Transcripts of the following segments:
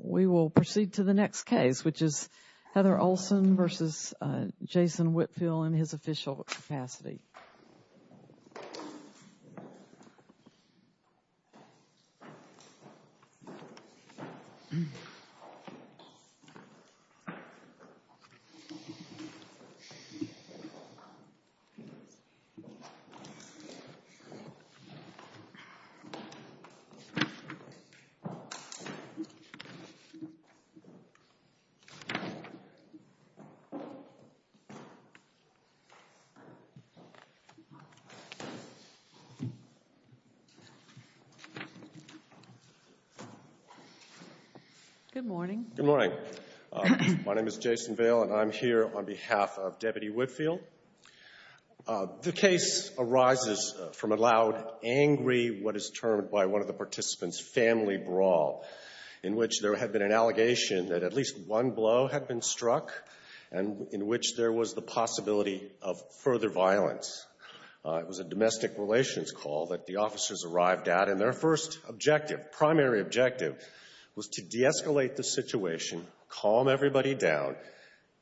We will proceed to the next case which is Heather Olson versus Jason Whitfield in his official capacity Good morning. Good morning. My name is Jason Vale and I'm here on behalf of Deputy Whitfield. The case arises from a loud, angry, what is termed by one of the participants, family brawl in which there had been an allegation that at least one blow had been struck and in which there was the possibility of further violence. It was a domestic relations call that the officers arrived at and their first objective, primary objective was to de-escalate the situation, calm everybody down,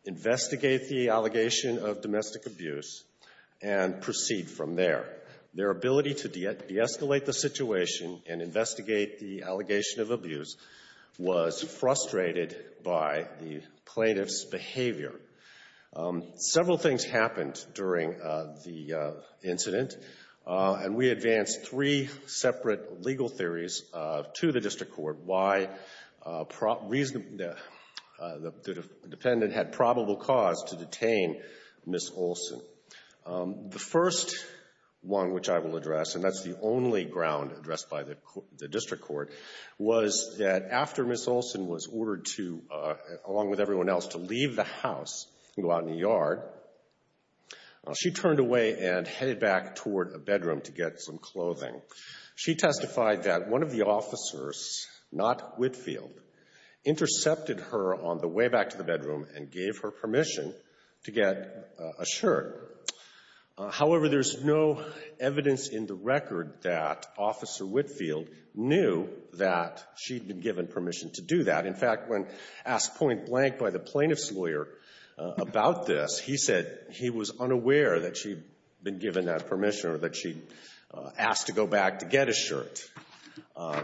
investigate the allegation of domestic abuse and proceed from there. Their ability to de-escalate the situation and investigate the allegation of abuse was frustrated by the plaintiff's behavior. Several things happened during the incident and we advanced three separate legal theories to the district court why the defendant had probable cause to detain Ms. Olson. The first one which I will address and that's the only ground addressed by the district court was that after Ms. Olson was ordered to, along with everyone else, to leave the house and go out in the yard, she turned away and headed back toward a bedroom to get some clothing. She testified that one of the officers, not Whitfield, intercepted her on the way back to the bedroom and gave her permission to get a shirt. However, there's no evidence in the record that Officer Whitfield knew that she'd been given permission to do that. In fact, when asked point blank by the plaintiff's lawyer about this, he said he was unaware that she'd been given that permission or that she'd asked to go back to get a shirt.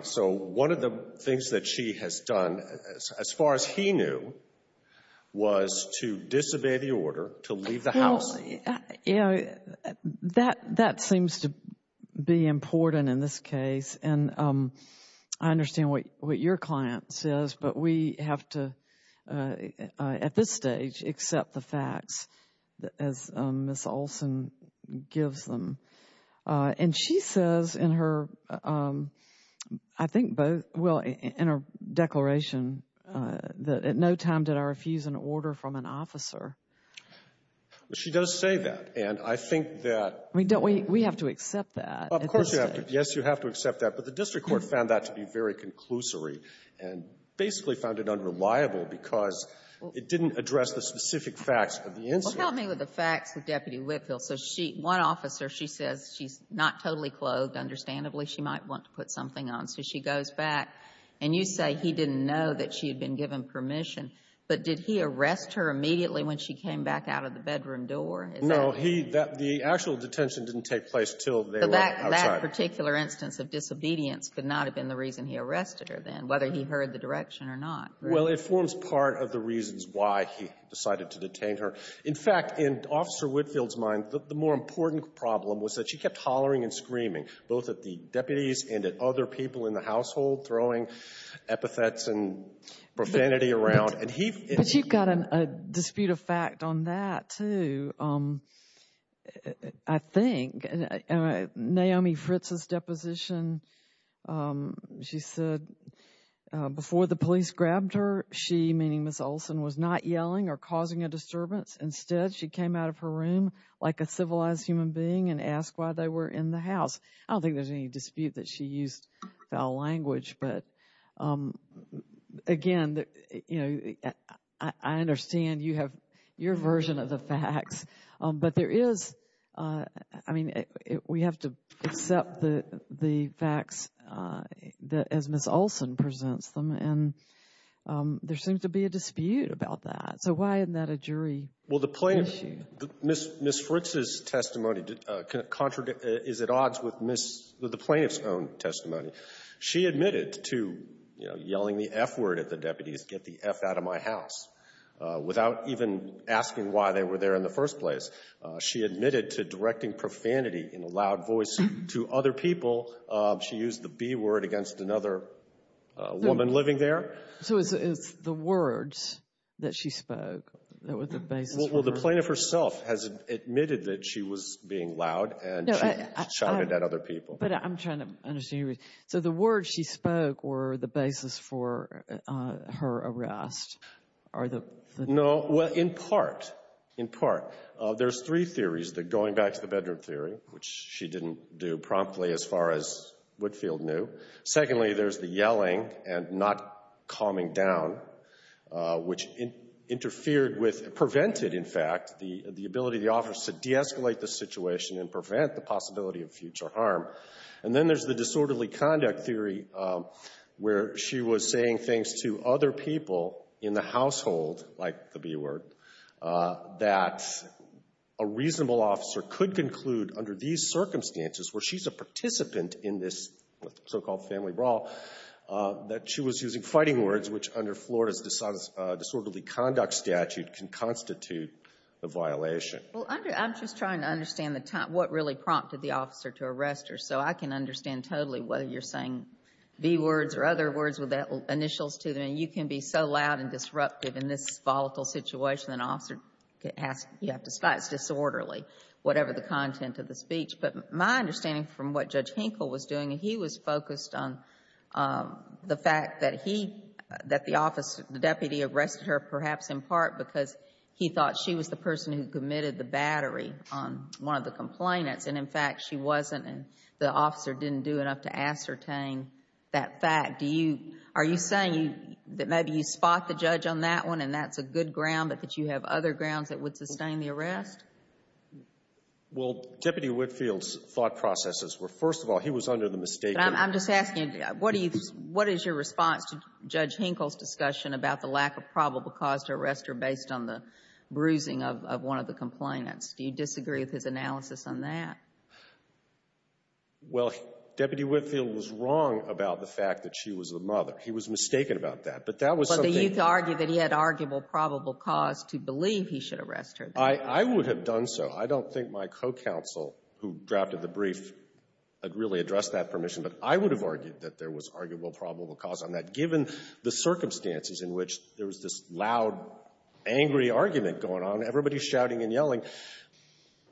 So one of the things that she has done, as far as he knew, was to disobey the order to leave the house. Well, you know, that seems to be important in this case and I understand what your client says, but we have to, at this stage, accept the facts as Ms. Olson gives them. And she says in her, I think both, well, in her declaration that at no time did I refuse an order from an officer. Well, she does say that. And I think that we have to accept that. Of course you have to. Yes, you have to accept that. But the district court found that to be very conclusory and basically found it unreliable because it didn't address the specific facts of the incident. Well, tell me what the facts of Deputy Whitfield. So one officer, she says she's not totally clothed. Understandably, she might want to put something on. So she goes back. And you say he didn't know that she had been given permission. But did he arrest her immediately when she came back out of the bedroom door? No. The actual detention didn't take place until they were outside. So that particular instance of disobedience could not have been the reason he arrested her then, whether he heard the direction or not. Well, it forms part of the reasons why he decided to detain her. In fact, in Officer Whitfield's mind, the more important problem was that she kept hollering and screaming, both at the deputies and at other people in the household, throwing epithets and profanity around. But you've got a dispute of fact on that, too, I think. Naomi Fritz's deposition, she said before the police grabbed her, she, meaning Ms. Olsen, was not yelling or causing a disturbance. Instead, she came out of her room like a civilized human being and asked why they were in the house. I don't think there's any dispute that she used foul language. But, again, I understand you have your version of the facts. But there is. I mean, we have to accept the facts as Ms. Olsen presents them. And there seems to be a dispute about that. So why isn't that a jury issue? Ms. Fritz's testimony is at odds with the plaintiff's own testimony. She admitted to yelling the F word at the deputies, get the F out of my house, without even asking why they were there in the first place. She admitted to directing profanity in a loud voice to other people. She used the B word against another woman living there. So it's the words that she spoke that were the basis for her. Well, the plaintiff herself has admitted that she was being loud and shouted at other people. But I'm trying to understand your reasoning. So the words she spoke were the basis for her arrest? No. Well, in part, in part. There's three theories going back to the bedroom theory, which she didn't do promptly as far as Woodfield knew. Secondly, there's the yelling and not calming down, which interfered with, prevented, in fact, the ability of the office to de-escalate the situation and prevent the possibility of future harm. And then there's the disorderly conduct theory where she was saying things to other people in the household, like the B word, that a reasonable officer could conclude under these circumstances where she's a participant in this so-called family brawl, that she was using fighting words, which under Florida's disorderly conduct statute can constitute a violation. Well, I'm just trying to understand what really prompted the officer to arrest her so I can understand totally whether you're saying B words or other words with initials to them. And you can be so loud and disruptive in this volatile situation, an officer can ask you to fight disorderly, whatever the content of the speech. But my understanding from what Judge Hinkle was doing, he was focused on the fact that he, that the office, the deputy arrested her perhaps in part because he thought she was the person who committed the battery on one of the complainants and, in fact, she wasn't and the officer didn't do enough to ascertain that fact. Do you, are you saying that maybe you spot the judge on that one and that's a good ground but that you have other grounds that would sustain the arrest? Well, Deputy Whitfield's thought processes were, first of all, he was under the mistake of But I'm just asking, what is your response to Judge Hinkle's discussion about the lack of probable cause to arrest her based on the bruising of one of the complainants? Do you disagree with his analysis on that? Well, Deputy Whitfield was wrong about the fact that she was the mother. He was mistaken about that. But that was something But the youth argued that he had arguable probable cause to believe he should arrest her. I would have done so. I don't think my co-counsel who drafted the brief had really addressed that permission. But I would have argued that there was arguable probable cause on that given the circumstances in which there was this loud, angry argument going on, everybody's shouting and yelling.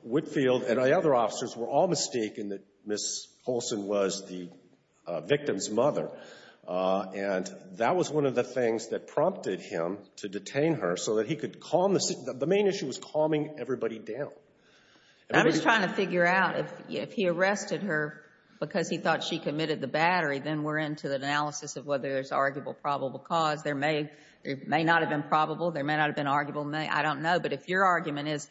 Whitfield and the other officers were all mistaken that Ms. Holson was the victim's mother. And that was one of the things that prompted him to detain her so that he could calm the situation. The main issue was calming everybody down. I'm just trying to figure out if he arrested her because he thought she committed the battery, then we're into the analysis of whether there's arguable probable cause. There may not have been probable. There may not have been arguable. I don't know. But if your argument is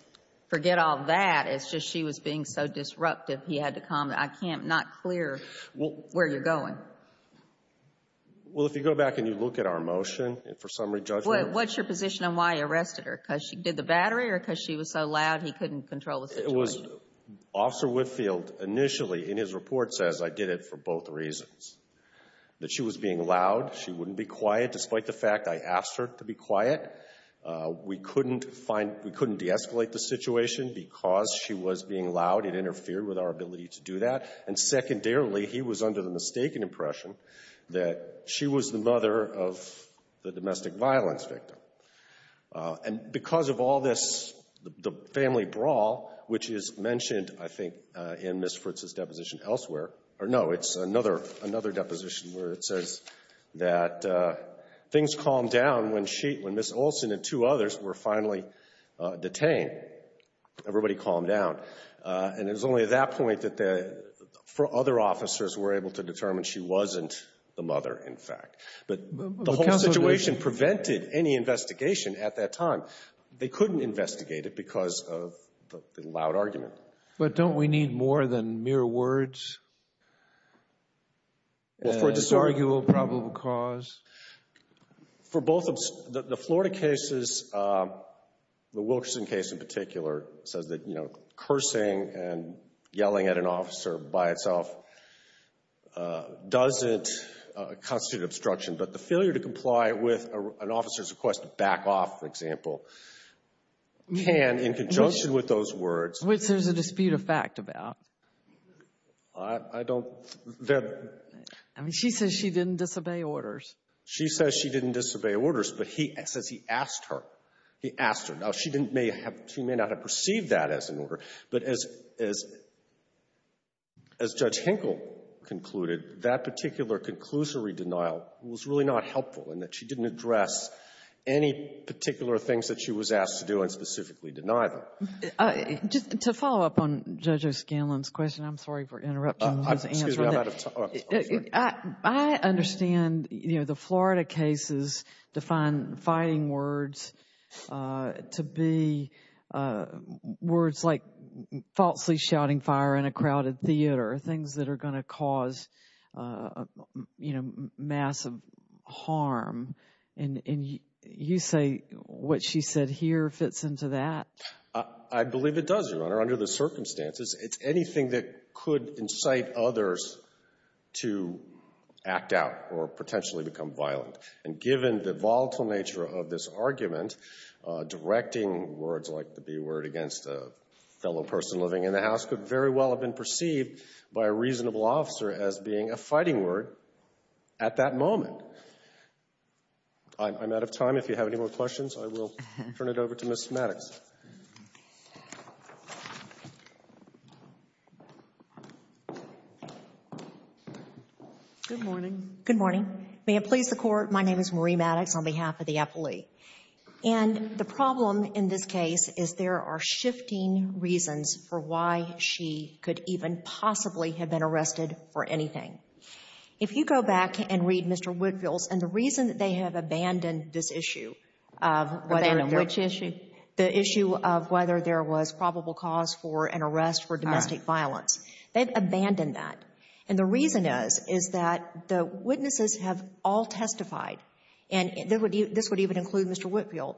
forget all that, it's just she was being so disruptive, he had to calm her. I can't not clear where you're going. Well, if you go back and you look at our motion for summary judgment. What's your position on why he arrested her? Because she did the battery or because she was so loud he couldn't control the situation? Because Officer Whitfield initially in his report says I did it for both reasons, that she was being loud, she wouldn't be quiet despite the fact I asked her to be quiet. We couldn't find we couldn't de-escalate the situation because she was being loud. It interfered with our ability to do that. And secondarily, he was under the mistaken impression that she was the mother of the domestic violence victim. And because of all this, the family brawl, which is mentioned, I think, in Ms. Fritz's deposition elsewhere, or no, it's another deposition where it says that things calmed down when she, when Ms. Olson and two others were finally detained, everybody calmed down. And it was only at that point that the other officers were able to determine she wasn't the mother, in fact. But the whole situation prevented any investigation at that time. They couldn't investigate it because of the loud argument. But don't we need more than mere words? For a disarguable probable cause? For both, the Florida cases, the Wilkerson case in particular, says that cursing and yelling at an officer by itself doesn't constitute obstruction. But the failure to comply with an officer's request to back off, for example, can, in conjunction with those words — Which there's a dispute of fact about. I don't — I mean, she says she didn't disobey orders. She says she didn't disobey orders, but he says he asked her. He asked her. Now, she may not have perceived that as an order. But as Judge Hinkle concluded, that particular conclusory denial was really not helpful in that she didn't address any particular things that she was asked to do and specifically deny them. Just to follow up on Judge O'Scanlan's question, I'm sorry for interrupting his answer. Excuse me, I'm out of time. I understand, you know, the Florida cases define fighting words to be words like falsely shouting fire in a crowded theater, things that are going to cause, you know, massive harm. And you say what she said here fits into that? It's anything that could incite others to act out or potentially become violent. And given the volatile nature of this argument, directing words like the B word against a fellow person living in the house could very well have been perceived by a reasonable officer as being a fighting word at that moment. I'm out of time. If you have any more questions, I will turn it over to Ms. Maddox. Ms. Maddox. Good morning. Good morning. May it please the Court, my name is Marie Maddox on behalf of the appellee. And the problem in this case is there are shifting reasons for why she could even possibly have been arrested for anything. If you go back and read Mr. Woodville's and the reason they have abandoned this issue Which issue? The issue of whether there was probable cause for an arrest for domestic violence. They've abandoned that. And the reason is, is that the witnesses have all testified, and this would even include Mr. Woodville,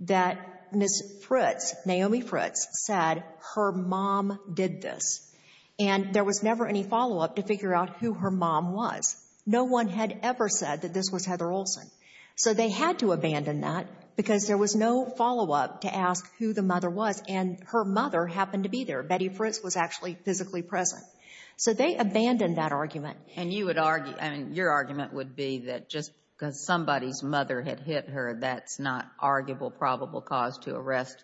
that Ms. Fritz, Naomi Fritz, said her mom did this. And there was never any follow-up to figure out who her mom was. No one had ever said that this was Heather Olsen. So they had to abandon that because there was no follow-up to ask who the mother was. And her mother happened to be there. Betty Fritz was actually physically present. So they abandoned that argument. And you would argue, I mean, your argument would be that just because somebody's mother had hit her, that's not arguable probable cause to arrest.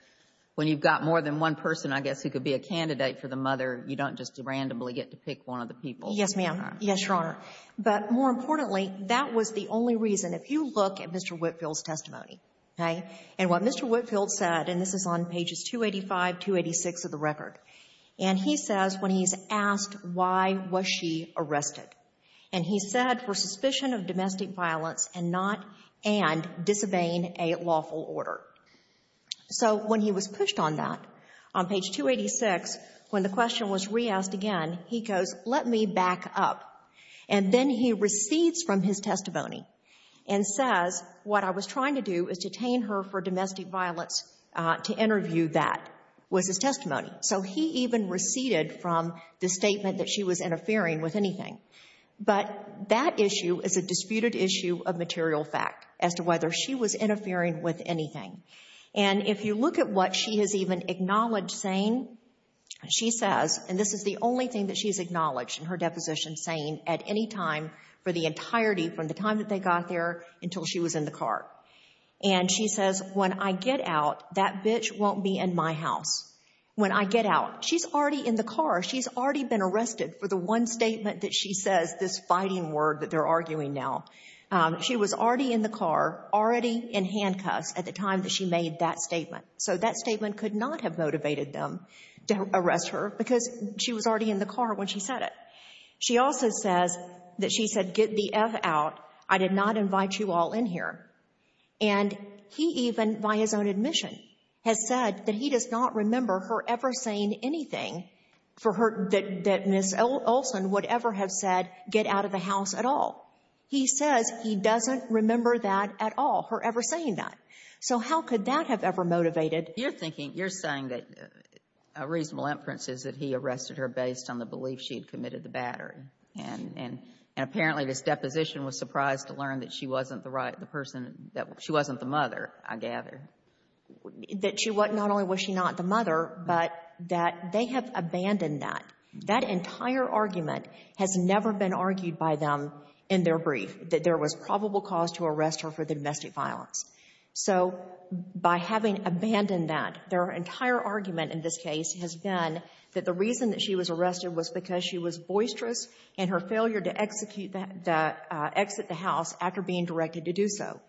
When you've got more than one person, I guess, who could be a candidate for the mother, you don't just randomly get to pick one of the people. Yes, ma'am. Yes, Your Honor. But more importantly, that was the only reason. If you look at Mr. Woodville's testimony, okay, and what Mr. Woodville said, and this is on pages 285, 286 of the record, and he says when he's asked why was she arrested, and he said for suspicion of domestic violence and not and disobeying a lawful order. So when he was pushed on that, on page 286, when the question was re-asked again, he goes, let me back up. And then he recedes from his testimony and says what I was trying to do is detain her for domestic violence to interview that was his testimony. So he even receded from the statement that she was interfering with anything. But that issue is a disputed issue of material fact as to whether she was interfering with anything. And if you look at what she has even acknowledged saying, she says, and this is the only thing that she has acknowledged in her deposition saying at any time for the entirety from the time that they got there until she was in the car. And she says, when I get out, that bitch won't be in my house. When I get out. She's already in the car. She's already been arrested for the one statement that she says, this fighting word that they're arguing now. She was already in the car, already in handcuffs at the time that she made that statement. So that statement could not have motivated them to arrest her because she was already in the car when she said it. She also says that she said, get the F out. I did not invite you all in here. And he even, by his own admission, has said that he does not remember her ever saying anything for her, that Ms. Olson would ever have said, get out of the house at all. He says he doesn't remember that at all, her ever saying that. So how could that have ever motivated? You're thinking, you're saying that a reasonable inference is that he arrested her based on the belief she had committed the battery. And apparently this deposition was surprised to learn that she wasn't the right, the person, that she wasn't the mother, I gather. That she wasn't, not only was she not the mother, but that they have abandoned that. That entire argument has never been argued by them in their brief, that there was probable cause to arrest her for domestic violence. So by having abandoned that, their entire argument in this case has been that the reason that she was arrested was because she was boisterous and her failure to execute the, exit the house after being directed to do so.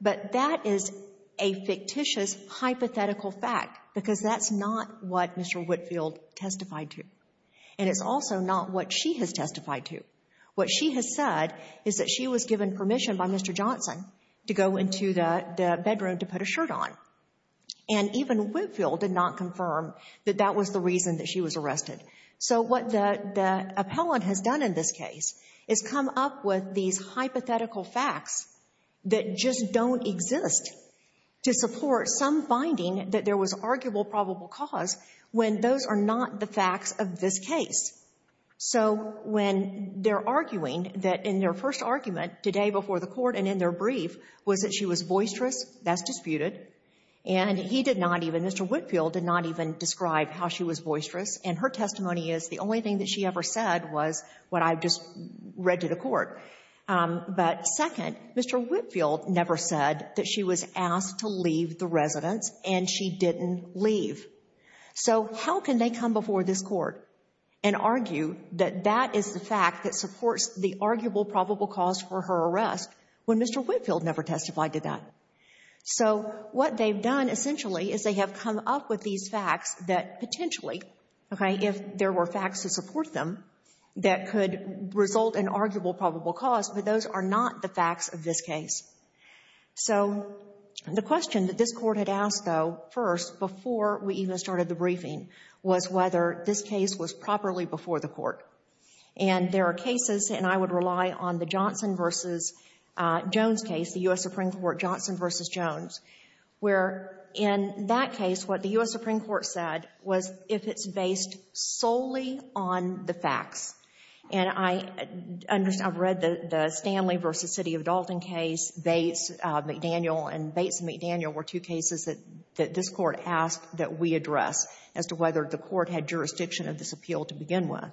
But that is a fictitious, hypothetical fact, because that's not what Mr. Whitfield testified to. And it's also not what she has testified to. What she has said is that she was given permission by Mr. Johnson to go into the bedroom to put a shirt on. And even Whitfield did not confirm that that was the reason that she was arrested. So what the appellant has done in this case is come up with these hypothetical facts that just don't exist to support some finding that there was arguable probable cause when those are not the facts of this case. So when they're arguing that in their first argument today before the court and in their brief was that she was boisterous, that's disputed. And he did not even, Mr. Whitfield did not even describe how she was boisterous. And her testimony is the only thing that she ever said was what I've just read to the court. But second, Mr. Whitfield never said that she was asked to leave the residence and she didn't leave. So how can they come before this court and argue that that is the fact that supports the arguable probable cause for her arrest when Mr. Whitfield never testified to that? So what they've done essentially is they have come up with these facts that potentially, okay, if there were facts to support them, that could result in arguable probable cause, but those are not the facts of this case. So the question that this Court had asked, though, first, before we even started the briefing, was whether this case was properly before the Court. And there are cases, and I would rely on the Johnson v. Jones case, the U.S. Supreme Court Johnson v. Jones, where in that case, what the U.S. Supreme Court said was if it's based solely on the facts. And I've read the Stanley v. City of Dalton case, Bates, McDaniel. And Bates and McDaniel were two cases that this Court asked that we address as to whether the Court had jurisdiction of this appeal to begin with.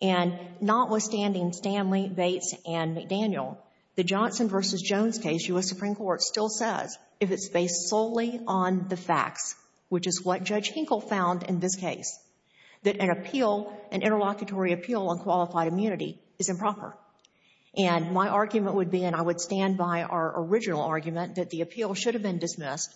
And notwithstanding Stanley, Bates, and McDaniel, the Johnson v. Jones case, U.S. Supreme Court still says if it's based solely on the facts, which is what Judge Hinkle found in this case, that an appeal, an interlocutory appeal on qualified immunity is improper. And my argument would be, and I would stand by our original argument, that the appeal should have been dismissed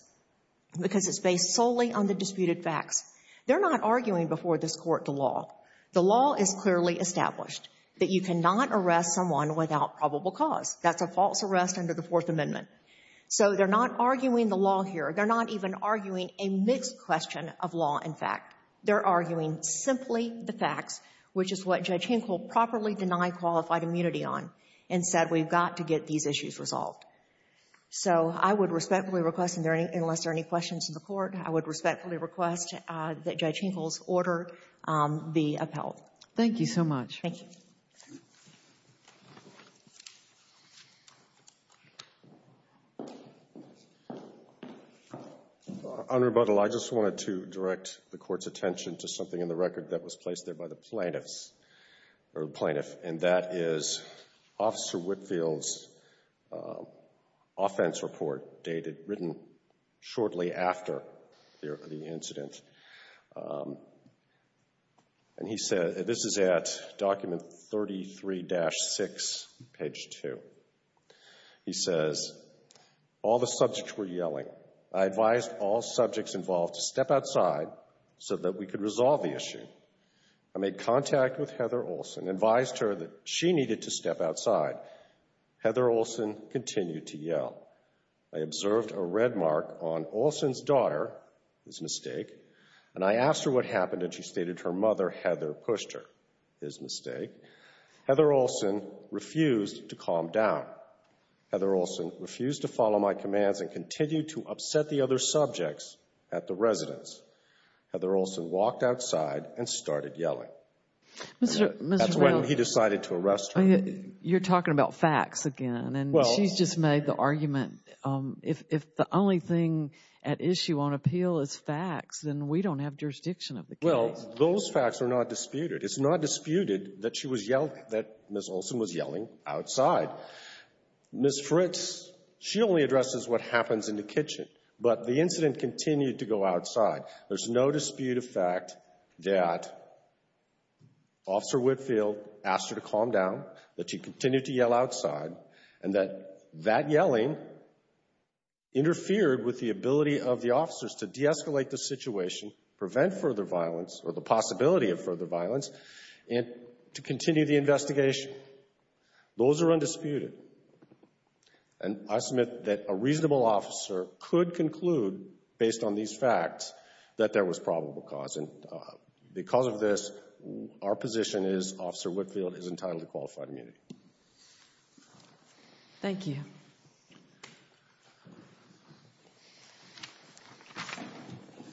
because it's based solely on the disputed facts. They're not arguing before this Court the law. The law is clearly established that you cannot arrest someone without probable cause. That's a false arrest under the Fourth Amendment. So they're not arguing the law here. They're not even arguing a mixed question of law and fact. They're arguing simply the facts, which is what Judge Hinkle properly denied qualified immunity on and said we've got to get these issues resolved. So I would respectfully request, unless there are any questions in the Court, I would respectfully request that Judge Hinkle's order be upheld. Thank you so much. Thank you. On rebuttal, I just wanted to direct the Court's attention to something in the record that was placed there by the plaintiffs, or the plaintiff, and that is Officer Whitfield's offense report dated, written shortly after the incident. And he said, this is at document 33-6, page 2. He says, all the subjects were yelling. I advised all subjects involved to step outside so that we could resolve the issue. I made contact with Heather Olson, advised her that she needed to step outside. Heather Olson continued to yell. I observed a red mark on Olson's daughter, his mistake, and I asked her what happened, and she stated her mother, Heather, pushed her, his mistake. Heather Olson refused to calm down. Heather Olson refused to follow my commands and continued to upset the other subjects at the residence. Heather Olson walked outside and started yelling. That's when he decided to arrest her. You're talking about facts again, and she's just made the argument, if the only thing at issue on appeal is facts, then we don't have jurisdiction of the case. Well, those facts are not disputed. It's not disputed that she was yelling, that Ms. Olson was yelling outside. Ms. Fritz, she only addresses what happens in the kitchen, but the incident continued to go outside. There's no dispute of fact that Officer Whitfield asked her to calm down, that she continued to yell outside, and that that yelling interfered with the ability of the officers to de-escalate the situation, prevent further violence, or the possibility of further violence, and to continue the investigation. Those are undisputed. And I submit that a reasonable officer could conclude, based on these facts, that there was probable cause, and because of this, our position is Officer Whitfield is entitled to qualified immunity. Thank you.